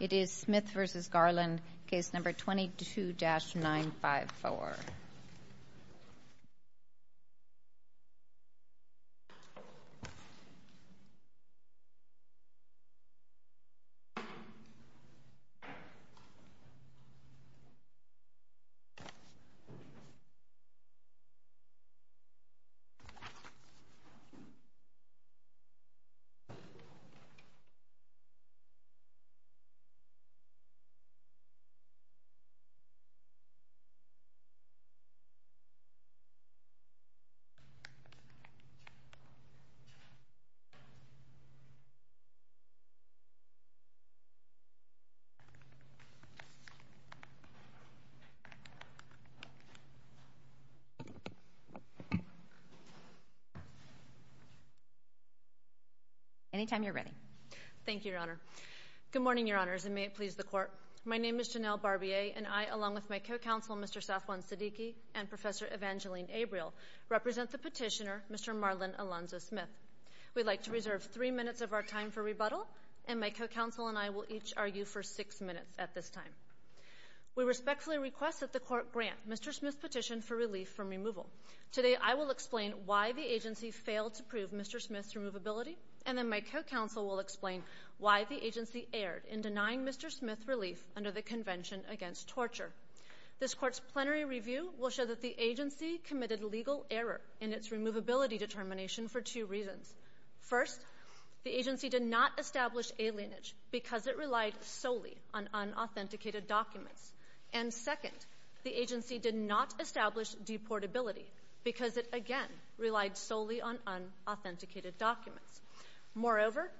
It is Smith v. Garland, case number 22-954. Any time you are ready. Good morning, Your Honors, and may it please the Court. My name is Janelle Barbier, and I, along with my co-counsel, Mr. Safwan Siddiqui, and Professor Evangeline Abriel, represent the petitioner, Mr. Marlon Alonzo Smith. We'd like to reserve three minutes of our time for rebuttal, and my co-counsel and I will each argue for six minutes at this time. We respectfully request that the Court grant Mr. Smith's petition for relief from removal. Today, I will explain why the agency failed to prove Mr. Smith's removability, and then my co-counsel will explain why the agency erred in denying Mr. Smith relief under the Convention Against Torture. This Court's plenary review will show that the agency committed legal error in its removability determination for two reasons. First, the agency did not establish alienage because it relied solely on unauthenticated documents. And second, the agency did not establish deportability because it, again, relied solely on unauthenticated documents. Moreover,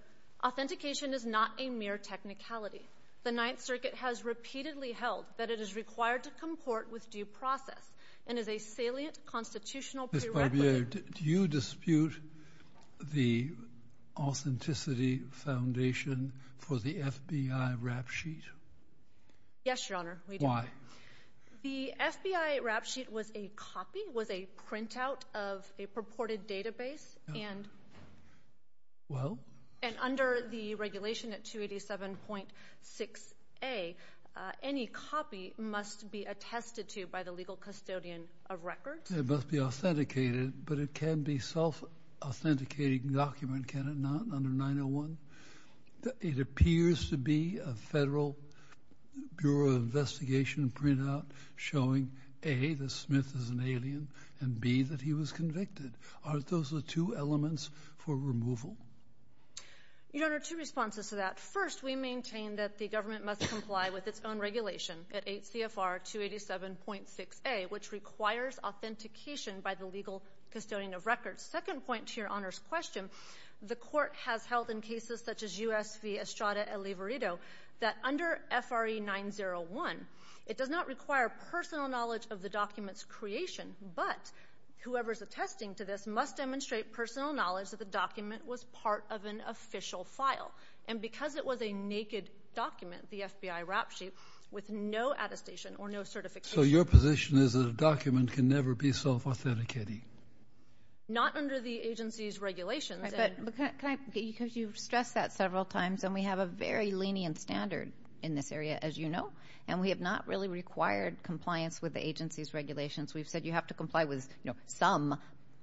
authentication is not a mere technicality. The Ninth Circuit has repeatedly held that it is required to comport with due process and is a salient constitutional prerequisite. Ms. Barbier, do you dispute the authenticity foundation for the FBI rap sheet? Yes, Your Honor, we do. Why? The FBI rap sheet was a copy, was a printout of a purported database, and under the regulation at 287.6a, any copy must be attested to by the legal custodian of records. It must be authenticated, but it can be a self-authenticating document, can it not, under 901? It appears to be a Federal Bureau of Investigation printout showing, A, that Smith is an alien, and, B, that he was convicted. Aren't those the two elements for removal? Your Honor, two responses to that. First, we maintain that the government must comply with its own regulation at 8 CFR 287.6a, which requires authentication by the legal custodian of records. Second point to Your Honor's question, the court has held in cases such as U.S. v. Estrada-El Liverito that under F.R.E. 901, it does not require personal knowledge of the document's creation, but whoever is attesting to this must demonstrate personal knowledge that the document was part of an official file. And because it was a naked document, the FBI rap sheet, with no attestation or no certification. So your position is that a document can never be self-authenticating? Not under the agency's regulations. Right, but can I, because you've stressed that several times, and we have a very lenient standard in this area, as you know, and we have not really required compliance with the agency's regulations. We've said you have to comply with some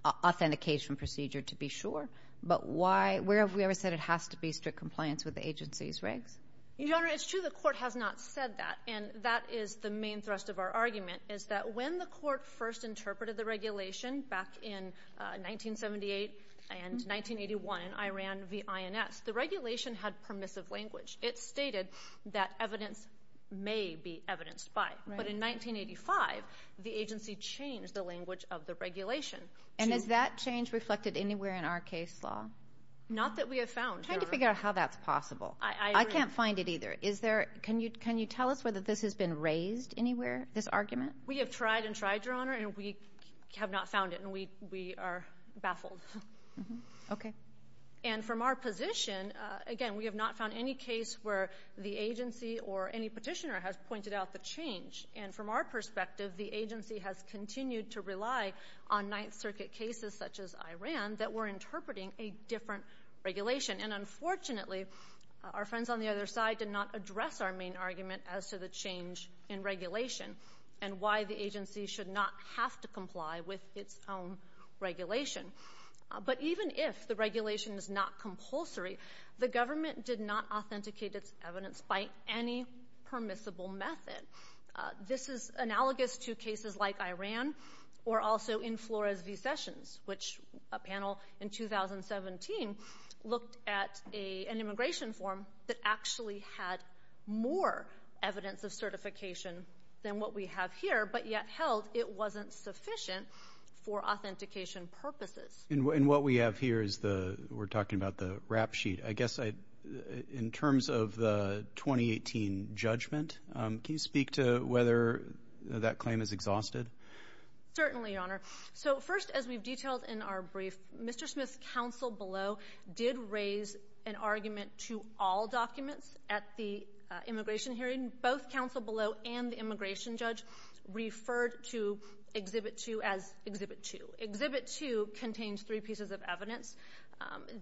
authentication procedure to be sure, but why, where have we ever said it has to be strict compliance with the agency's regs? Your Honor, it's true the court has not said that, and that is the main thrust of our argument, is that when the court first interpreted the regulation back in 1978 and 1981 in Iran v. INS, the regulation had permissive language. It stated that evidence may be evidenced by, but in 1985, the agency changed the language of the regulation. And has that change reflected anywhere in our case law? Not that we have found, Your Honor. I'm trying to figure out how that's possible. I agree. I can't find it either. Can you tell us whether this has been raised anywhere, this argument? We have tried and tried, Your Honor, and we have not found it, and we are baffled. Okay. And from our position, again, we have not found any case where the agency or any petitioner has pointed out the change. And from our perspective, the agency has continued to rely on Ninth Circuit cases such as Iran that were interpreting a different regulation. And unfortunately, our friends on the other side did not address our main argument as to the change in regulation and why the agency should not have to comply with its own regulation. But even if the regulation is not compulsory, the government did not authenticate its evidence by any permissible method. This is analogous to cases like Iran or also in Flores v. Sessions, which a panel in 2017 looked at an immigration form that actually had more evidence of certification than what we have here but yet held it wasn't sufficient for authentication purposes. And what we have here is the we're talking about the rap sheet. I guess in terms of the 2018 judgment, can you speak to whether that claim is exhausted? Certainly, Your Honor. So first, as we've detailed in our brief, Mr. Smith's counsel below did raise an argument to all documents at the immigration hearing. Both counsel below and the immigration judge referred to Exhibit 2 as Exhibit 2. Exhibit 2 contains three pieces of evidence.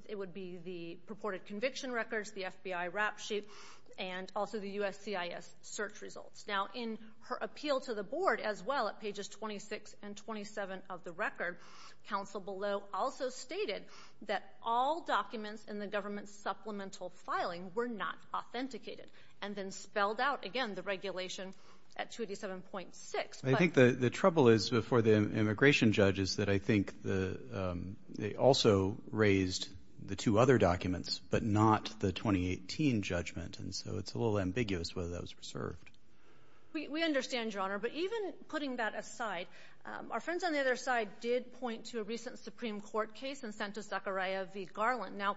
It would be the purported conviction records, the FBI rap sheet, and also the USCIS search results. Now, in her appeal to the board as well at pages 26 and 27 of the record, counsel below also stated that all documents in the government's supplemental filing were not authenticated and then spelled out again the regulation at 287.6. I think the trouble is before the immigration judge is that I think they also raised the two other documents but not the 2018 judgment. And so it's a little ambiguous whether that was preserved. We understand, Your Honor. But even putting that aside, our friends on the other side did point to a recent Supreme Court case and sent to Zachariah v. Garland. Now,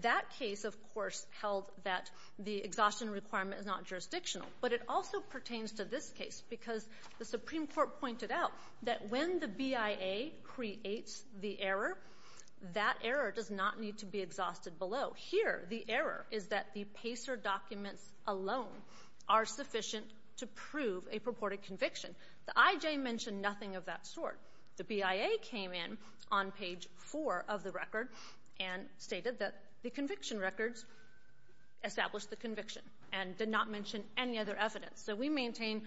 that case, of course, held that the exhaustion requirement is not jurisdictional. But it also pertains to this case because the Supreme Court pointed out that when the BIA creates the error, that error does not need to be exhausted below. Here, the error is that the PACER documents alone are sufficient to prove a purported conviction. The IJ mentioned nothing of that sort. The BIA came in on page 4 of the record and stated that the conviction records established the conviction and did not mention any other evidence. So we maintain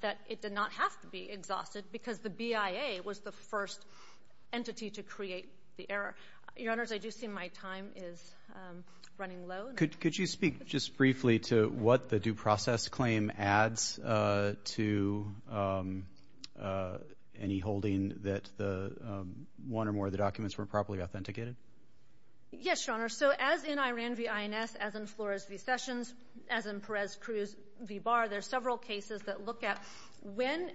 that it did not have to be exhausted because the BIA was the first entity to create the error. Your Honors, I do see my time is running low. Could you speak just briefly to what the due process claim adds to any holding that one or more of the documents were properly authenticated? Yes, Your Honor. So as in Iran v. INS, as in Flores v. Sessions, as in Perez-Cruz v. Barr, there are several cases that look at when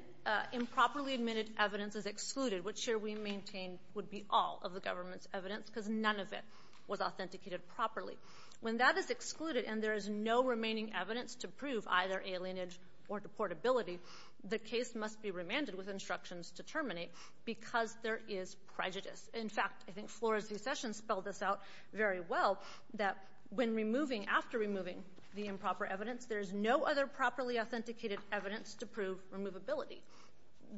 improperly admitted evidence is excluded. Which here we maintain would be all of the government's evidence because none of it was authenticated properly. When that is excluded and there is no remaining evidence to prove either alienage or deportability, the case must be remanded with instructions to terminate because there is prejudice. In fact, I think Flores v. Sessions spelled this out very well, that when removing, after removing the improper evidence, there is no other properly authenticated evidence to prove removability.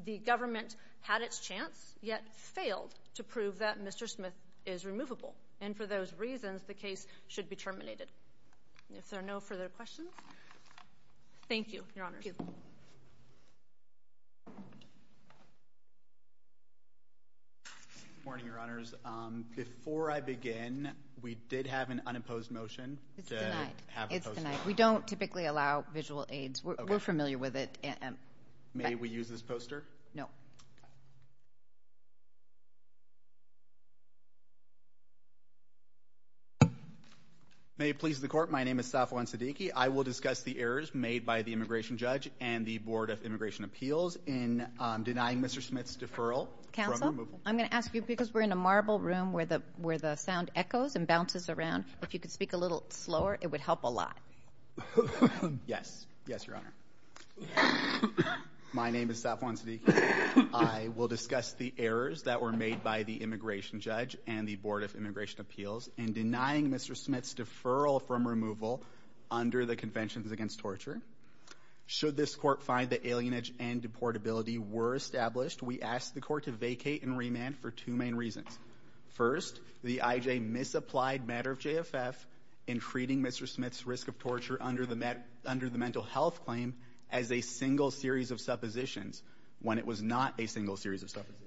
The government had its chance, yet failed to prove that Mr. Smith is removable. And for those reasons, the case should be terminated. If there are no further questions, thank you, Your Honors. Thank you. Good morning, Your Honors. Before I begin, we did have an unopposed motion. It's denied. It's denied. We don't typically allow visual aids. We're familiar with it. May we use this poster? No. May it please the Court, my name is Safwan Siddiqui. I will discuss the errors made by the immigration judge and the Board of Immigration Appeals in denying Mr. Smith's deferral. Counsel, I'm going to ask you, because we're in a marble room where the sound echoes and bounces around, if you could speak a little slower, it would help a lot. Yes. Yes, Your Honor. My name is Safwan Siddiqui. I will discuss the errors that were made by the immigration judge and the Board of Immigration Appeals in denying Mr. Smith's deferral from removal under the Conventions Against Torture. Should this court find that alienage and deportability were established, we ask the court to vacate and remand for two main reasons. First, the I.J. misapplied matter of JFF in treating Mr. Smith's risk of torture under the mental health claim as a single series of suppositions when it was not a single series of suppositions.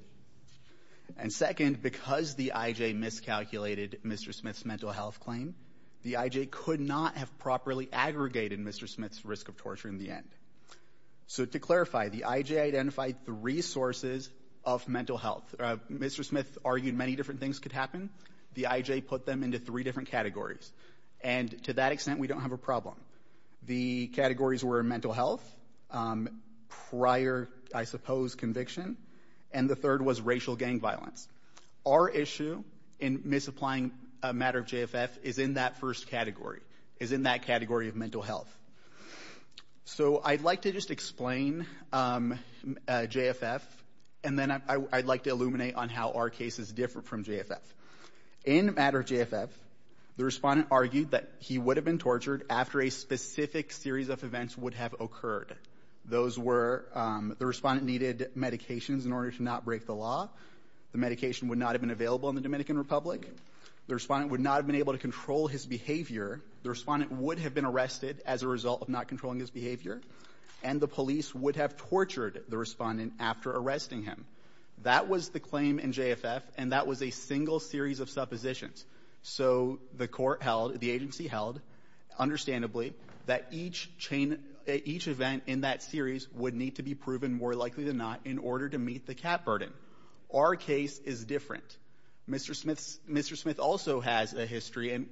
And second, because the I.J. miscalculated Mr. Smith's mental health claim, the I.J. could not have properly aggregated Mr. Smith's risk of torture in the end. So to clarify, the I.J. identified three sources of mental health. Mr. Smith argued many different things could happen. The I.J. put them into three different categories, and to that extent, we don't have a problem. The categories were mental health, prior, I suppose, conviction, and the third was racial gang violence. Our issue in misapplying a matter of JFF is in that first category, is in that category of mental health. So I'd like to just explain JFF, and then I'd like to illuminate on how our cases differ from JFF. In the matter of JFF, the respondent argued that he would have been tortured after a specific series of events would have occurred. Those were the respondent needed medications in order to not break the law. The medication would not have been available in the Dominican Republic. The respondent would not have been able to control his behavior. The respondent would have been arrested as a result of not controlling his behavior, and the police would have tortured the respondent after arresting him. That was the claim in JFF, and that was a single series of suppositions. So the court held, the agency held, understandably, that each event in that series would need to be proven more likely than not in order to meet the cap burden. Our case is different. Mr. Smith also has a history, and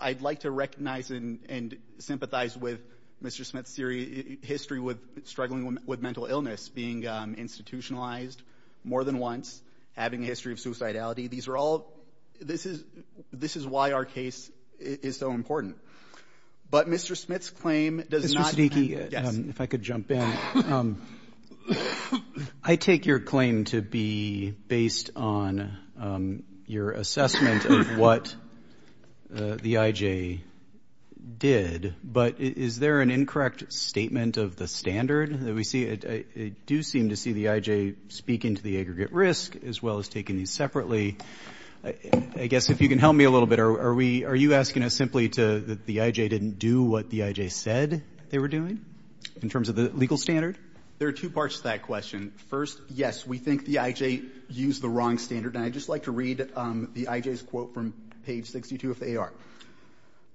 I'd like to recognize and sympathize with Mr. Smith's history with struggling with mental illness, being institutionalized more than once, having a history of suicidality. These are all ñ this is why our case is so important. But Mr. Smith's claim does notó your assessment of what the I.J. did. But is there an incorrect statement of the standard that we see? I do seem to see the I.J. speaking to the aggregate risk as well as taking these separately. I guess if you can help me a little bit, are weóare you asking us simply toóthe I.J. didn't do what the I.J. said they were doing in terms of the legal standard? There are two parts to that question. First, yes, we think the I.J. used the wrong standard. And I'd just like to read the I.J.'s quote from page 62 of the AR.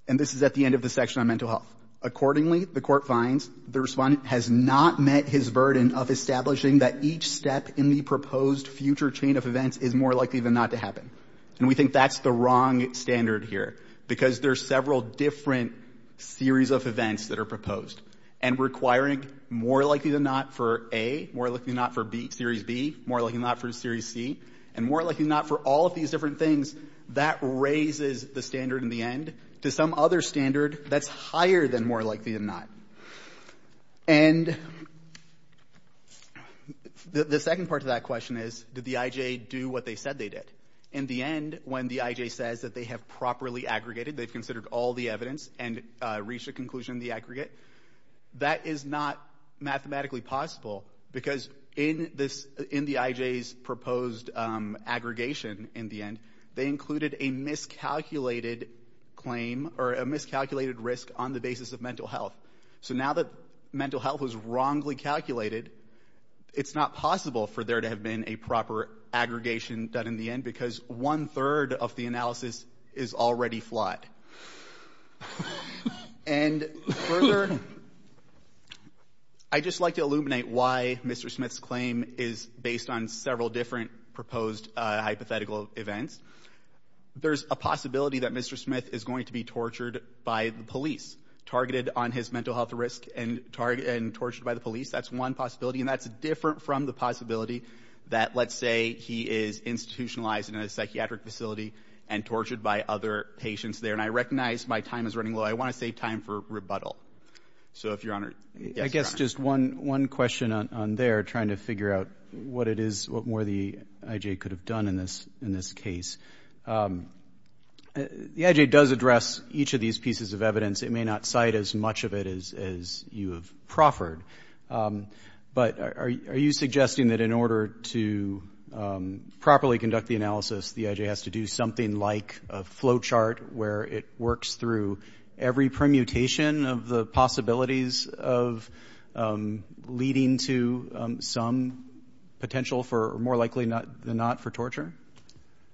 And this is at the end of the section on mental health. Accordingly, the court finds the respondent has not met his burden of establishing that each step in the proposed future chain of events is more likely than not to happen. And we think that's the wrong standard here, because there are several different series of events that are proposed and requiring more likely than not for A, more likely than not for B, Series B, more likely than not for Series C, and more likely than not for all of these different things. That raises the standard in the end to some other standard that's higher than more likely than not. And the second part to that question is, did the I.J. do what they said they did? In the end, when the I.J. says that they have properly aggregated, they've considered all the evidence and reached a conclusion in the aggregate, that is not mathematically possible, because in the I.J.'s proposed aggregation in the end, they included a miscalculated claim or a miscalculated risk on the basis of mental health. So now that mental health was wrongly calculated, it's not possible for there to have been a proper aggregation done in the end, because one-third of the analysis is already flawed. And further, I'd just like to illuminate why Mr. Smith's claim is based on several different proposed hypothetical events. There's a possibility that Mr. Smith is going to be tortured by the police, targeted on his mental health risk and tortured by the police. That's one possibility, and that's different from the possibility that, let's say, he is institutionalized in a psychiatric facility and tortured by other patients there. And I recognize my time is running low. I want to save time for rebuttal. So if Your Honor, yes, Your Honor. I guess just one question on there, trying to figure out what it is, what more the I.J. could have done in this case. The I.J. does address each of these pieces of evidence. It may not cite as much of it as you have proffered. But are you suggesting that in order to properly conduct the analysis, the I.J. has to do something like a flowchart where it works through every permutation of the possibilities of leading to some potential for, more likely than not, for torture?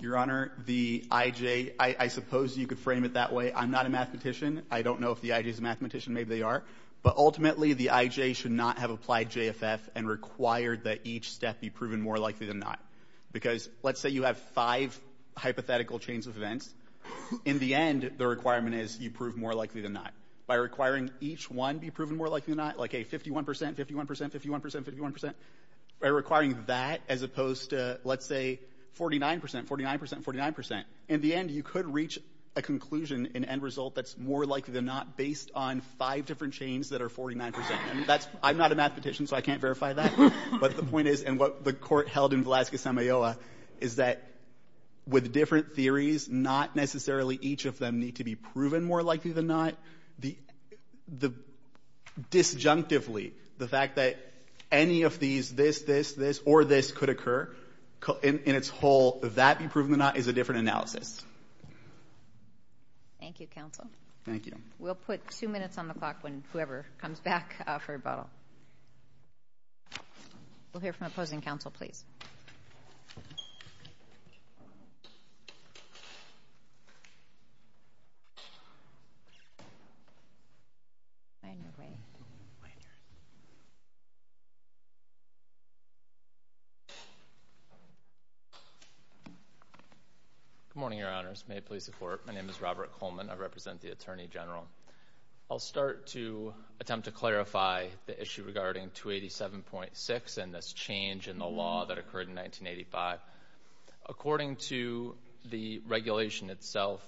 Your Honor, the I.J. I suppose you could frame it that way. I'm not a mathematician. I don't know if the I.J. is a mathematician. Maybe they are. But ultimately, the I.J. should not have applied JFF and required that each step be proven more likely than not. Because let's say you have five hypothetical chains of events. In the end, the requirement is you prove more likely than not. By requiring each one be proven more likely than not, like a 51%, 51%, 51%, 51%, by requiring that as opposed to, let's say, 49%, 49%, 49%, in the end you could reach a conclusion, an end result that's more likely than not based on five different chains that are 49%. I'm not a mathematician, so I can't verify that. But the point is, and what the Court held in Velasquez-Sanmayoa, is that with different theories, not necessarily each of them need to be proven more likely than not. Disjunctively, the fact that any of these, this, this, this, or this could occur in its whole, that be proven or not is a different analysis. Thank you, counsel. Thank you. We'll put two minutes on the clock when whoever comes back for rebuttal. We'll hear from opposing counsel, please. Good morning, Your Honors. May it please the Court, my name is Robert Coleman. I represent the Attorney General. I'll start to attempt to clarify the issue regarding 287.6 and this change in the law that occurred in 1985. According to the regulation itself,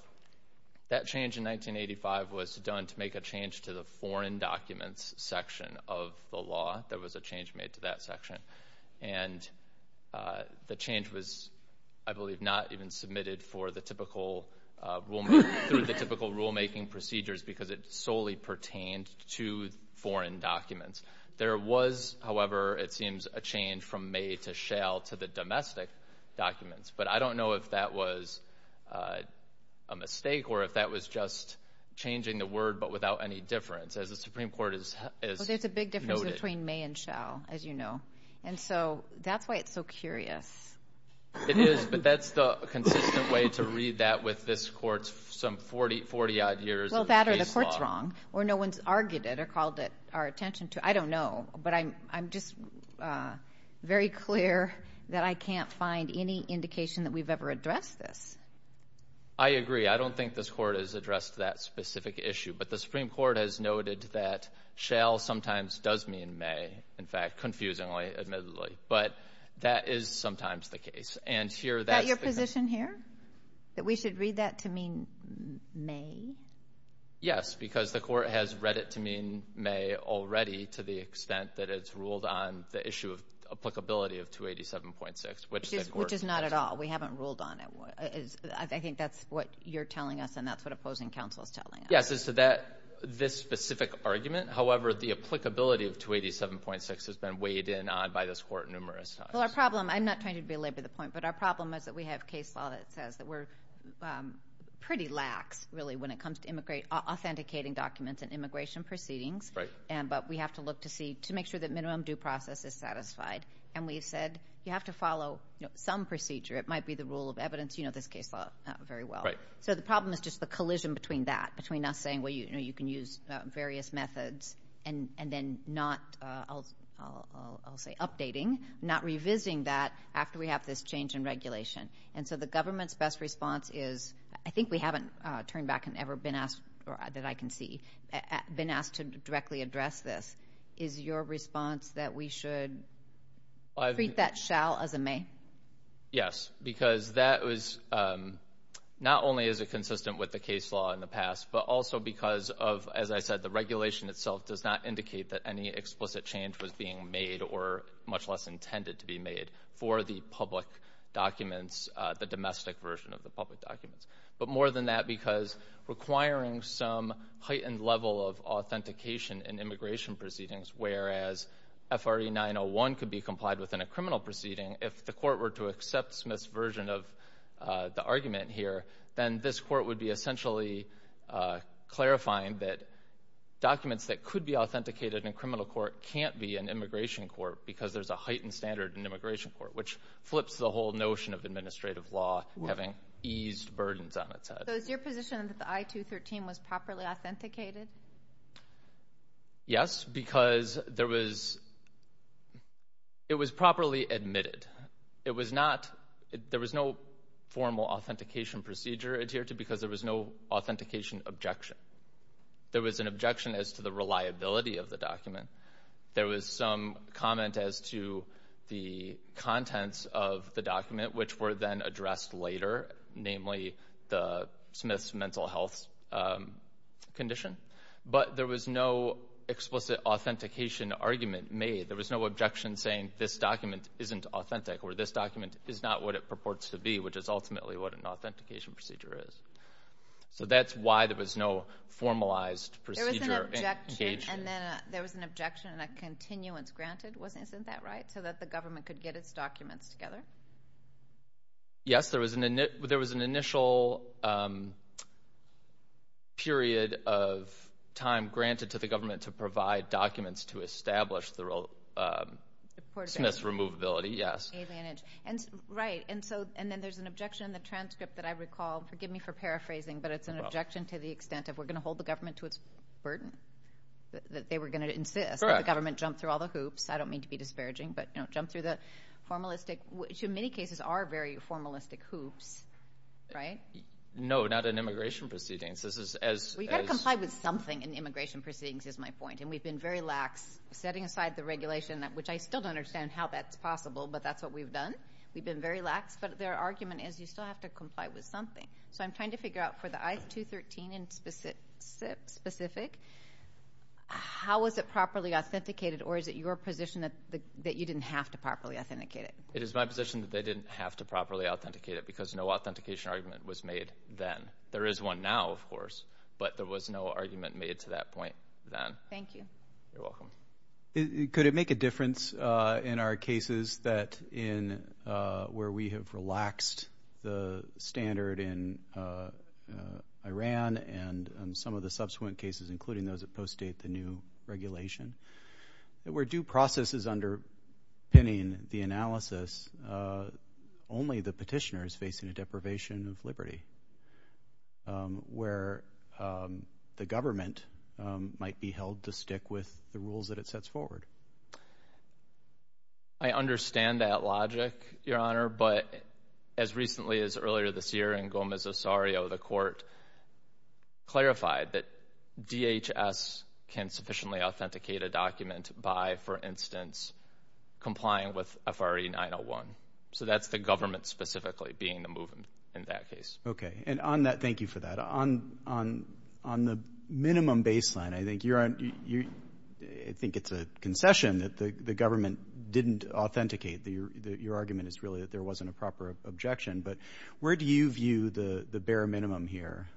that change in 1985 was done to make a change to the foreign documents section of the law. There was a change made to that section. And the change was, I believe, not even submitted for the typical rulemaking procedures because it solely pertained to foreign documents. There was, however, it seems, a change from may to shall to the domestic documents. But I don't know if that was a mistake or if that was just changing the word but without any difference. As the Supreme Court has noted. It was between may and shall, as you know. And so that's why it's so curious. It is, but that's the consistent way to read that with this Court's some 40-odd years of case law. Well, that or the Court's wrong or no one's argued it or called it our attention to it. I don't know, but I'm just very clear that I can't find any indication that we've ever addressed this. I agree. I don't think this Court has addressed that specific issue. But the Supreme Court has noted that shall sometimes does mean may, in fact, confusingly, admittedly. But that is sometimes the case. Is that your position here, that we should read that to mean may? Yes, because the Court has read it to mean may already to the extent that it's ruled on the issue of applicability of 287.6. Which is not at all. We haven't ruled on it. I think that's what you're telling us and that's what opposing counsel is telling us. Yes, this specific argument. However, the applicability of 287.6 has been weighed in on by this Court numerous times. Well, our problem, I'm not trying to belabor the point, but our problem is that we have case law that says that we're pretty lax, really, when it comes to authenticating documents and immigration proceedings. Right. But we have to look to see to make sure that minimum due process is satisfied. And we've said you have to follow some procedure. It might be the rule of evidence. You know this case law very well. Right. So the problem is just the collision between that, between us saying, well, you can use various methods, and then not, I'll say, updating, not revisiting that after we have this change in regulation. And so the government's best response is, I think we haven't turned back and ever been asked, or that I can see, been asked to directly address this. Is your response that we should treat that shall as a may? Yes, because that was not only is it consistent with the case law in the past, but also because of, as I said, the regulation itself does not indicate that any explicit change was being made or much less intended to be made for the public documents, the domestic version of the public documents. But more than that, because requiring some heightened level of authentication in immigration proceedings, whereas FRE 901 could be complied within a criminal proceeding, if the court were to accept Smith's version of the argument here, then this court would be essentially clarifying that documents that could be authenticated in criminal court can't be in immigration court because there's a heightened standard in immigration court, which flips the whole notion of administrative law having eased burdens on its head. So is your position that the I-213 was properly authenticated? Yes, because there was, it was properly admitted. It was not, there was no formal authentication procedure adhered to because there was no authentication objection. There was an objection as to the reliability of the document. There was some comment as to the contents of the document, which were then addressed later, namely the Smith's mental health condition. But there was no explicit authentication argument made. There was no objection saying this document isn't authentic or this document is not what it purports to be, which is ultimately what an authentication procedure is. So that's why there was no formalized procedure. There was an objection and a continuance granted. Isn't that right, so that the government could get its documents together? Yes, there was an initial period of time granted to the government to provide documents to establish the Smith's removability, yes. Right, and then there's an objection in the transcript that I recall. Forgive me for paraphrasing, but it's an objection to the extent of we're going to hold the government to its burden, that they were going to insist that the government jump through all the hoops. I don't mean to be disparaging, but jump through the formalistic, which in many cases are very formalistic hoops, right? No, not in immigration proceedings. We've got to comply with something in immigration proceedings is my point, and we've been very lax setting aside the regulation, which I still don't understand how that's possible, but that's what we've done. We've been very lax, but their argument is you still have to comply with something. So I'm trying to figure out for the I-213 in specific, how was it properly authenticated, or is it your position that you didn't have to properly authenticate it? It is my position that they didn't have to properly authenticate it because no authentication argument was made then. There is one now, of course, but there was no argument made to that point then. Thank you. You're welcome. Could it make a difference in our cases where we have relaxed the standard in Iran and some of the subsequent cases, including those that post-date the new regulation, that where due process is underpinning the analysis, only the petitioner is facing a deprivation of liberty, where the government might be held to stick with the rules that it sets forward? I understand that logic, Your Honor, but as recently as earlier this year in Gomez-Osario, the court clarified that DHS can sufficiently authenticate a document by, for instance, complying with FRE 901. So that's the government specifically being the movement in that case. Okay. Thank you for that. On the minimum baseline, I think it's a concession that the government didn't authenticate. Your argument is really that there wasn't a proper objection. But where do you view the bare minimum here?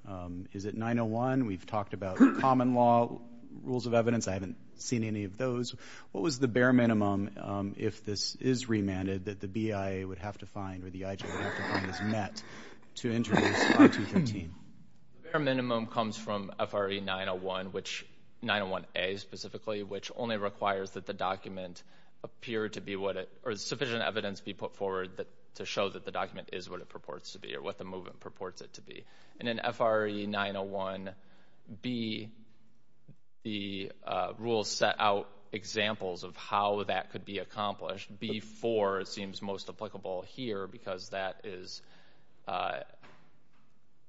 Is it 901? We've talked about common law rules of evidence. I haven't seen any of those. What was the bare minimum, if this is remanded, that the BIA would have to find or the IJ would have to find this met to introduce 5213? The bare minimum comes from FRE 901, 901A specifically, which only requires that the document appear to be what it or sufficient evidence be put forward to show that the document is what it purports to be or what the movement purports it to be. And in FRE 901B, the rules set out examples of how that could be accomplished. B4 seems most applicable here because that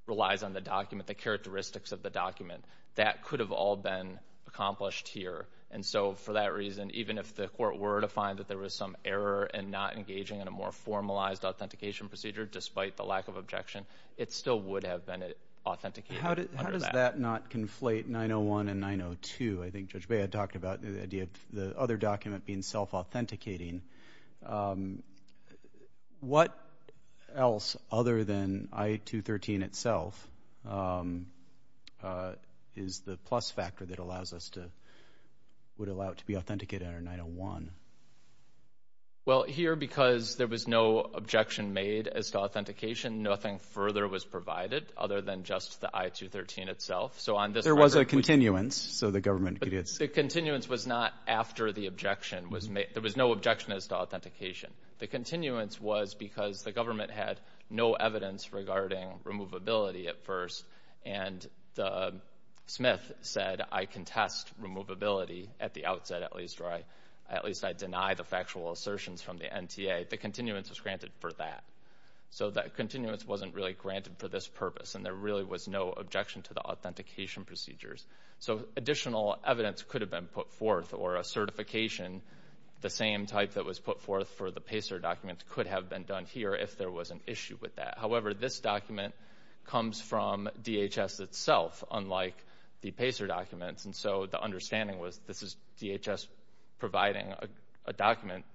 relies on the document, the characteristics of the document. That could have all been accomplished here. And so for that reason, even if the court were to find that there was some error in not engaging in a more formalized authentication procedure, despite the lack of objection, it still would have been authenticated under that. How does that not conflate 901 and 902? I think Judge Baya talked about the idea of the other document being self-authenticating. What else other than I213 itself is the plus factor that would allow it to be authenticated under 901? Well, here, because there was no objection made as to authentication, nothing further was provided other than just the I213 itself. There was a continuance, so the government could use it. The continuance was not after the objection was made. There was no objection as to authentication. The continuance was because the government had no evidence regarding removability at first, and Smith said, I contest removability at the outset, at least I deny the factual assertions from the NTA. The continuance was granted for that. So that continuance wasn't really granted for this purpose, and there really was no objection to the authentication procedures. So additional evidence could have been put forth, or a certification, the same type that was put forth for the PACER documents, could have been done here if there was an issue with that. However, this document comes from DHS itself, unlike the PACER documents, and so the understanding was this is DHS providing a document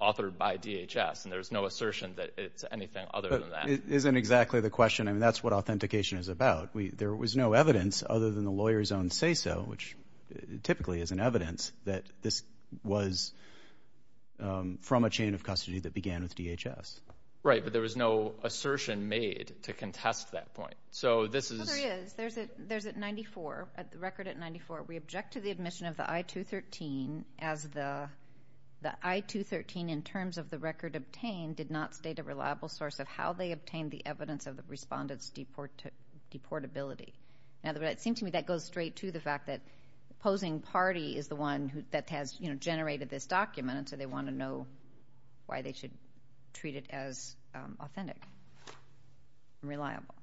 authored by DHS, and there's no assertion that it's anything other than that. But isn't exactly the question. I mean, that's what authentication is about. There was no evidence other than the lawyer's own say-so, which typically is an evidence that this was from a chain of custody that began with DHS. Right, but there was no assertion made to contest that point. So this is – Well, there is. There's at 94, a record at 94. We object to the admission of the I-213 as the I-213 in terms of the record obtained and did not state a reliable source of how they obtained the evidence of the respondent's deportability. In other words, it seems to me that goes straight to the fact that the opposing party is the one that has generated this document, and so they want to know why they should treat it as authentic and reliable.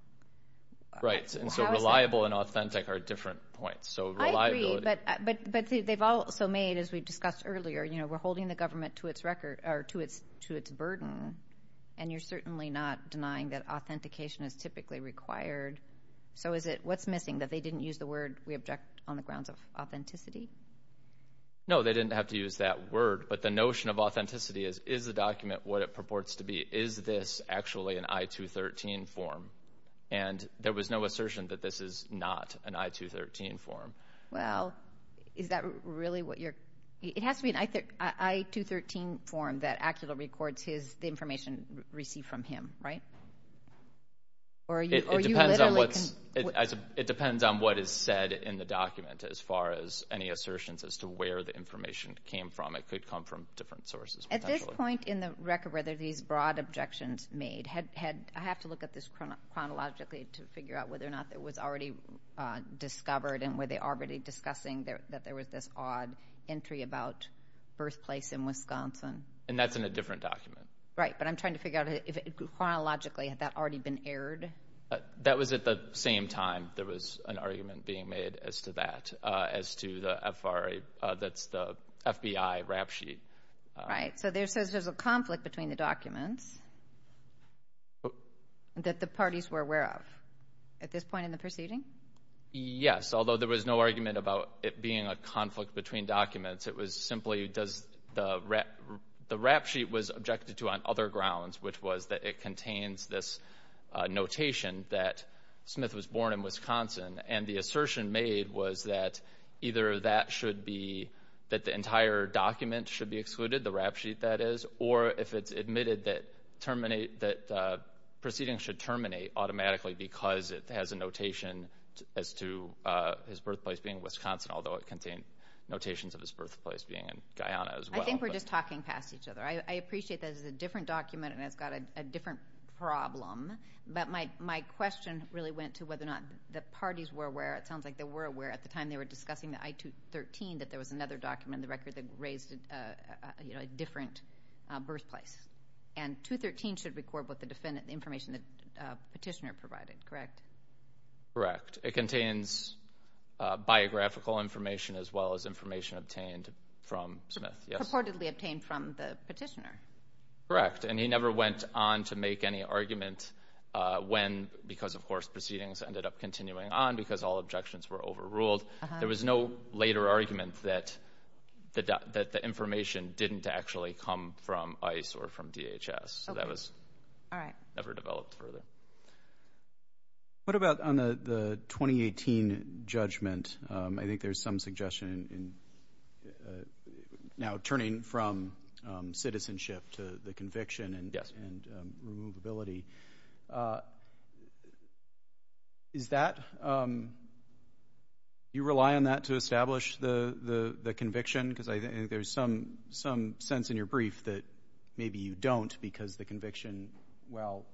Right, and so reliable and authentic are different points. So reliability. I agree, but they've also made, as we discussed earlier, we're holding the government to its record or to its burden, and you're certainly not denying that authentication is typically required. So what's missing, that they didn't use the word we object on the grounds of authenticity? No, they didn't have to use that word, but the notion of authenticity is, is the document what it purports to be? Is this actually an I-213 form? And there was no assertion that this is not an I-213 form. Well, is that really what you're? It has to be an I-213 form that actually records the information received from him, right? It depends on what is said in the document, as far as any assertions as to where the information came from. It could come from different sources. At this point in the record, whether these broad objections made, I have to look at this chronologically to figure out whether or not it was already discovered and were they already discussing that there was this odd entry about birthplace in Wisconsin. And that's in a different document. Right, but I'm trying to figure out if, chronologically, had that already been aired? That was at the same time there was an argument being made as to that, as to the FRA, that's the FBI rap sheet. Right, so there's a conflict between the documents that the parties were aware of at this point in the proceeding? Yes, although there was no argument about it being a conflict between documents. It was simply the rap sheet was objected to on other grounds, which was that it contains this notation that Smith was born in Wisconsin. And the assertion made was that either that should be, that the entire document should be excluded, the rap sheet, that is, or if it's admitted that proceedings should terminate automatically because it has a notation as to his birthplace being Wisconsin, although it contained notations of his birthplace being in Guyana as well. I think we're just talking past each other. I appreciate that it's a different document and it's got a different problem, but my question really went to whether or not the parties were aware. It sounds like they were aware at the time they were discussing the I-213 that there was another document in the record that raised a different birthplace. And 213 should record what the defendant, the information the petitioner provided, correct? Correct. It contains biographical information as well as information obtained from Smith. Purportedly obtained from the petitioner. Correct, and he never went on to make any argument when, because of course proceedings ended up continuing on because all objections were overruled. There was no later argument that the information didn't actually come from ICE or from DHS, so that was never developed further. What about on the 2018 judgment? I think there's some suggestion now turning from citizenship to the conviction and removability. Is that, do you rely on that to establish the conviction? Because I think there's some sense in your brief that maybe you don't because the conviction, well,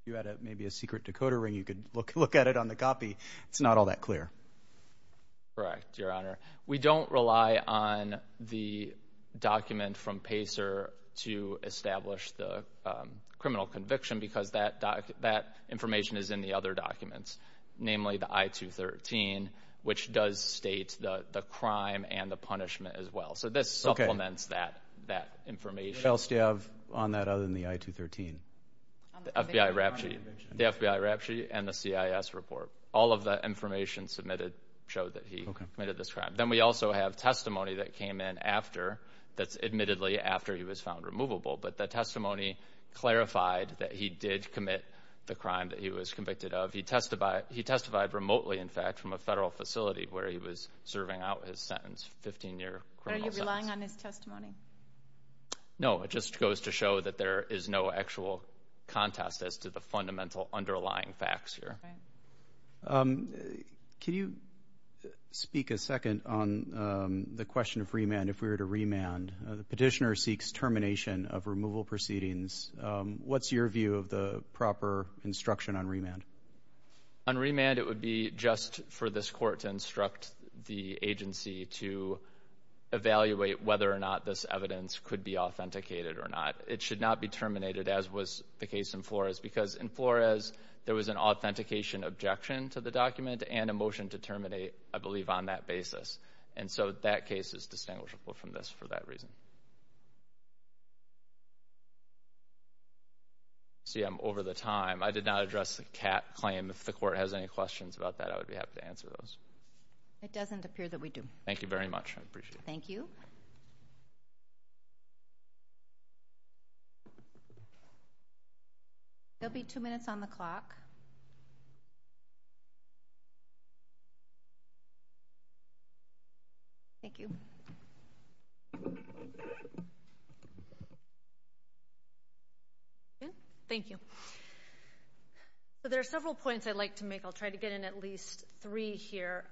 if you had maybe a secret decoder ring you could look at it on the copy. It's not all that clear. Correct, Your Honor. We don't rely on the document from Pacer to establish the criminal conviction because that information is in the other documents, namely the I-213, which does state the crime and the punishment as well. So this supplements that information. What else do you have on that other than the I-213? The FBI RAPTCHE and the CIS report. All of the information submitted showed that he committed this crime. Then we also have testimony that came in after, that's admittedly after he was found removable, but the testimony clarified that he did commit the crime that he was convicted of. He testified remotely, in fact, from a federal facility where he was serving out his sentence, 15-year criminal sentence. Are you relying on his testimony? No, it just goes to show that there is no actual contest as to the fundamental underlying facts here. Can you speak a second on the question of remand, if we were to remand? The petitioner seeks termination of removal proceedings. What's your view of the proper instruction on remand? On remand, it would be just for this court to instruct the agency to evaluate whether or not this evidence could be authenticated or not. It should not be terminated, as was the case in Flores, because in Flores there was an authentication objection to the document and a motion to terminate, I believe, on that basis. And so that case is distinguishable from this for that reason. I see I'm over the time. I did not address the Catt claim. If the court has any questions about that, I would be happy to answer those. It doesn't appear that we do. Thank you very much. I appreciate it. Thank you. There will be two minutes on the clock. Thank you. Thank you. There are several points I'd like to make. I'll try to get in at least three here.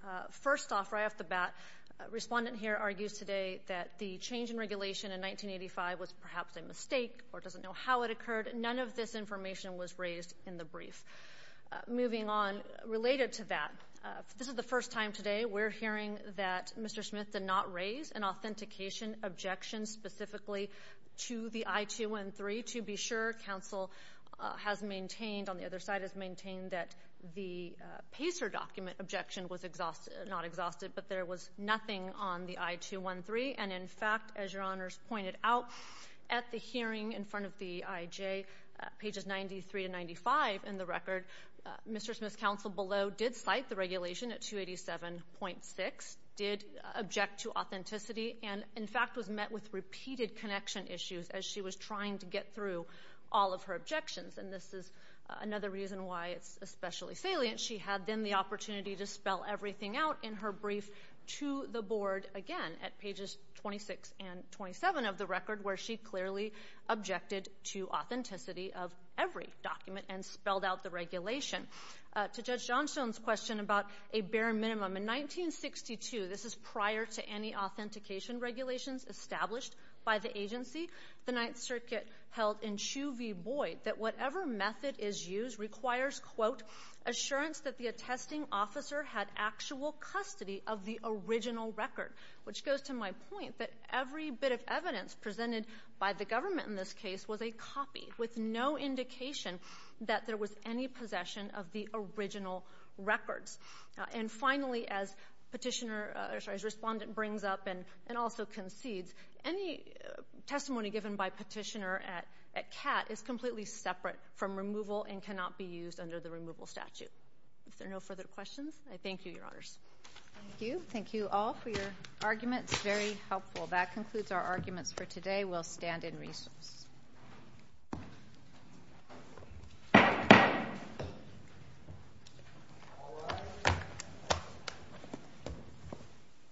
First off, right off the bat, a respondent here argues today that the change in regulation in 1985 was perhaps a mistake or doesn't know how it occurred. None of this information was raised in the brief. Moving on, related to that, this is the first time today we're hearing that Mr. Smith did not raise an authentication objection specifically to the I-213. To be sure, counsel has maintained, on the other side has maintained, that the PACER document objection was not exhausted, but there was nothing on the I-213. And, in fact, as Your Honors pointed out, at the hearing in front of the IJ, pages 93 to 95 in the record, Mr. Smith's counsel below did cite the regulation at 287.6, did object to authenticity, and, in fact, was met with repeated connection issues as she was trying to get through all of her objections. And this is another reason why it's especially salient. She had then the opportunity to spell everything out in her brief to the Board, again, at pages 26 and 27 of the record, where she clearly objected to authenticity of every document and spelled out the regulation. To Judge Johnstone's question about a bare minimum, in 1962, this is prior to any authentication regulations established by the agency, the Ninth Circuit held in Chu v. Boyd that whatever method is used requires, quote, assurance that the attesting officer had actual custody of the original record, which goes to my point that every bit of evidence presented by the government in this case was a copy with no indication that there was any possession of the original records. And finally, as Respondent brings up and also concedes, any testimony given by Petitioner at CAT is completely separate from removal and cannot be used under the removal statute. If there are no further questions, I thank you, Your Honors. Thank you. Thank you all for your arguments. Very helpful. That concludes our arguments for today. We'll stand in recess.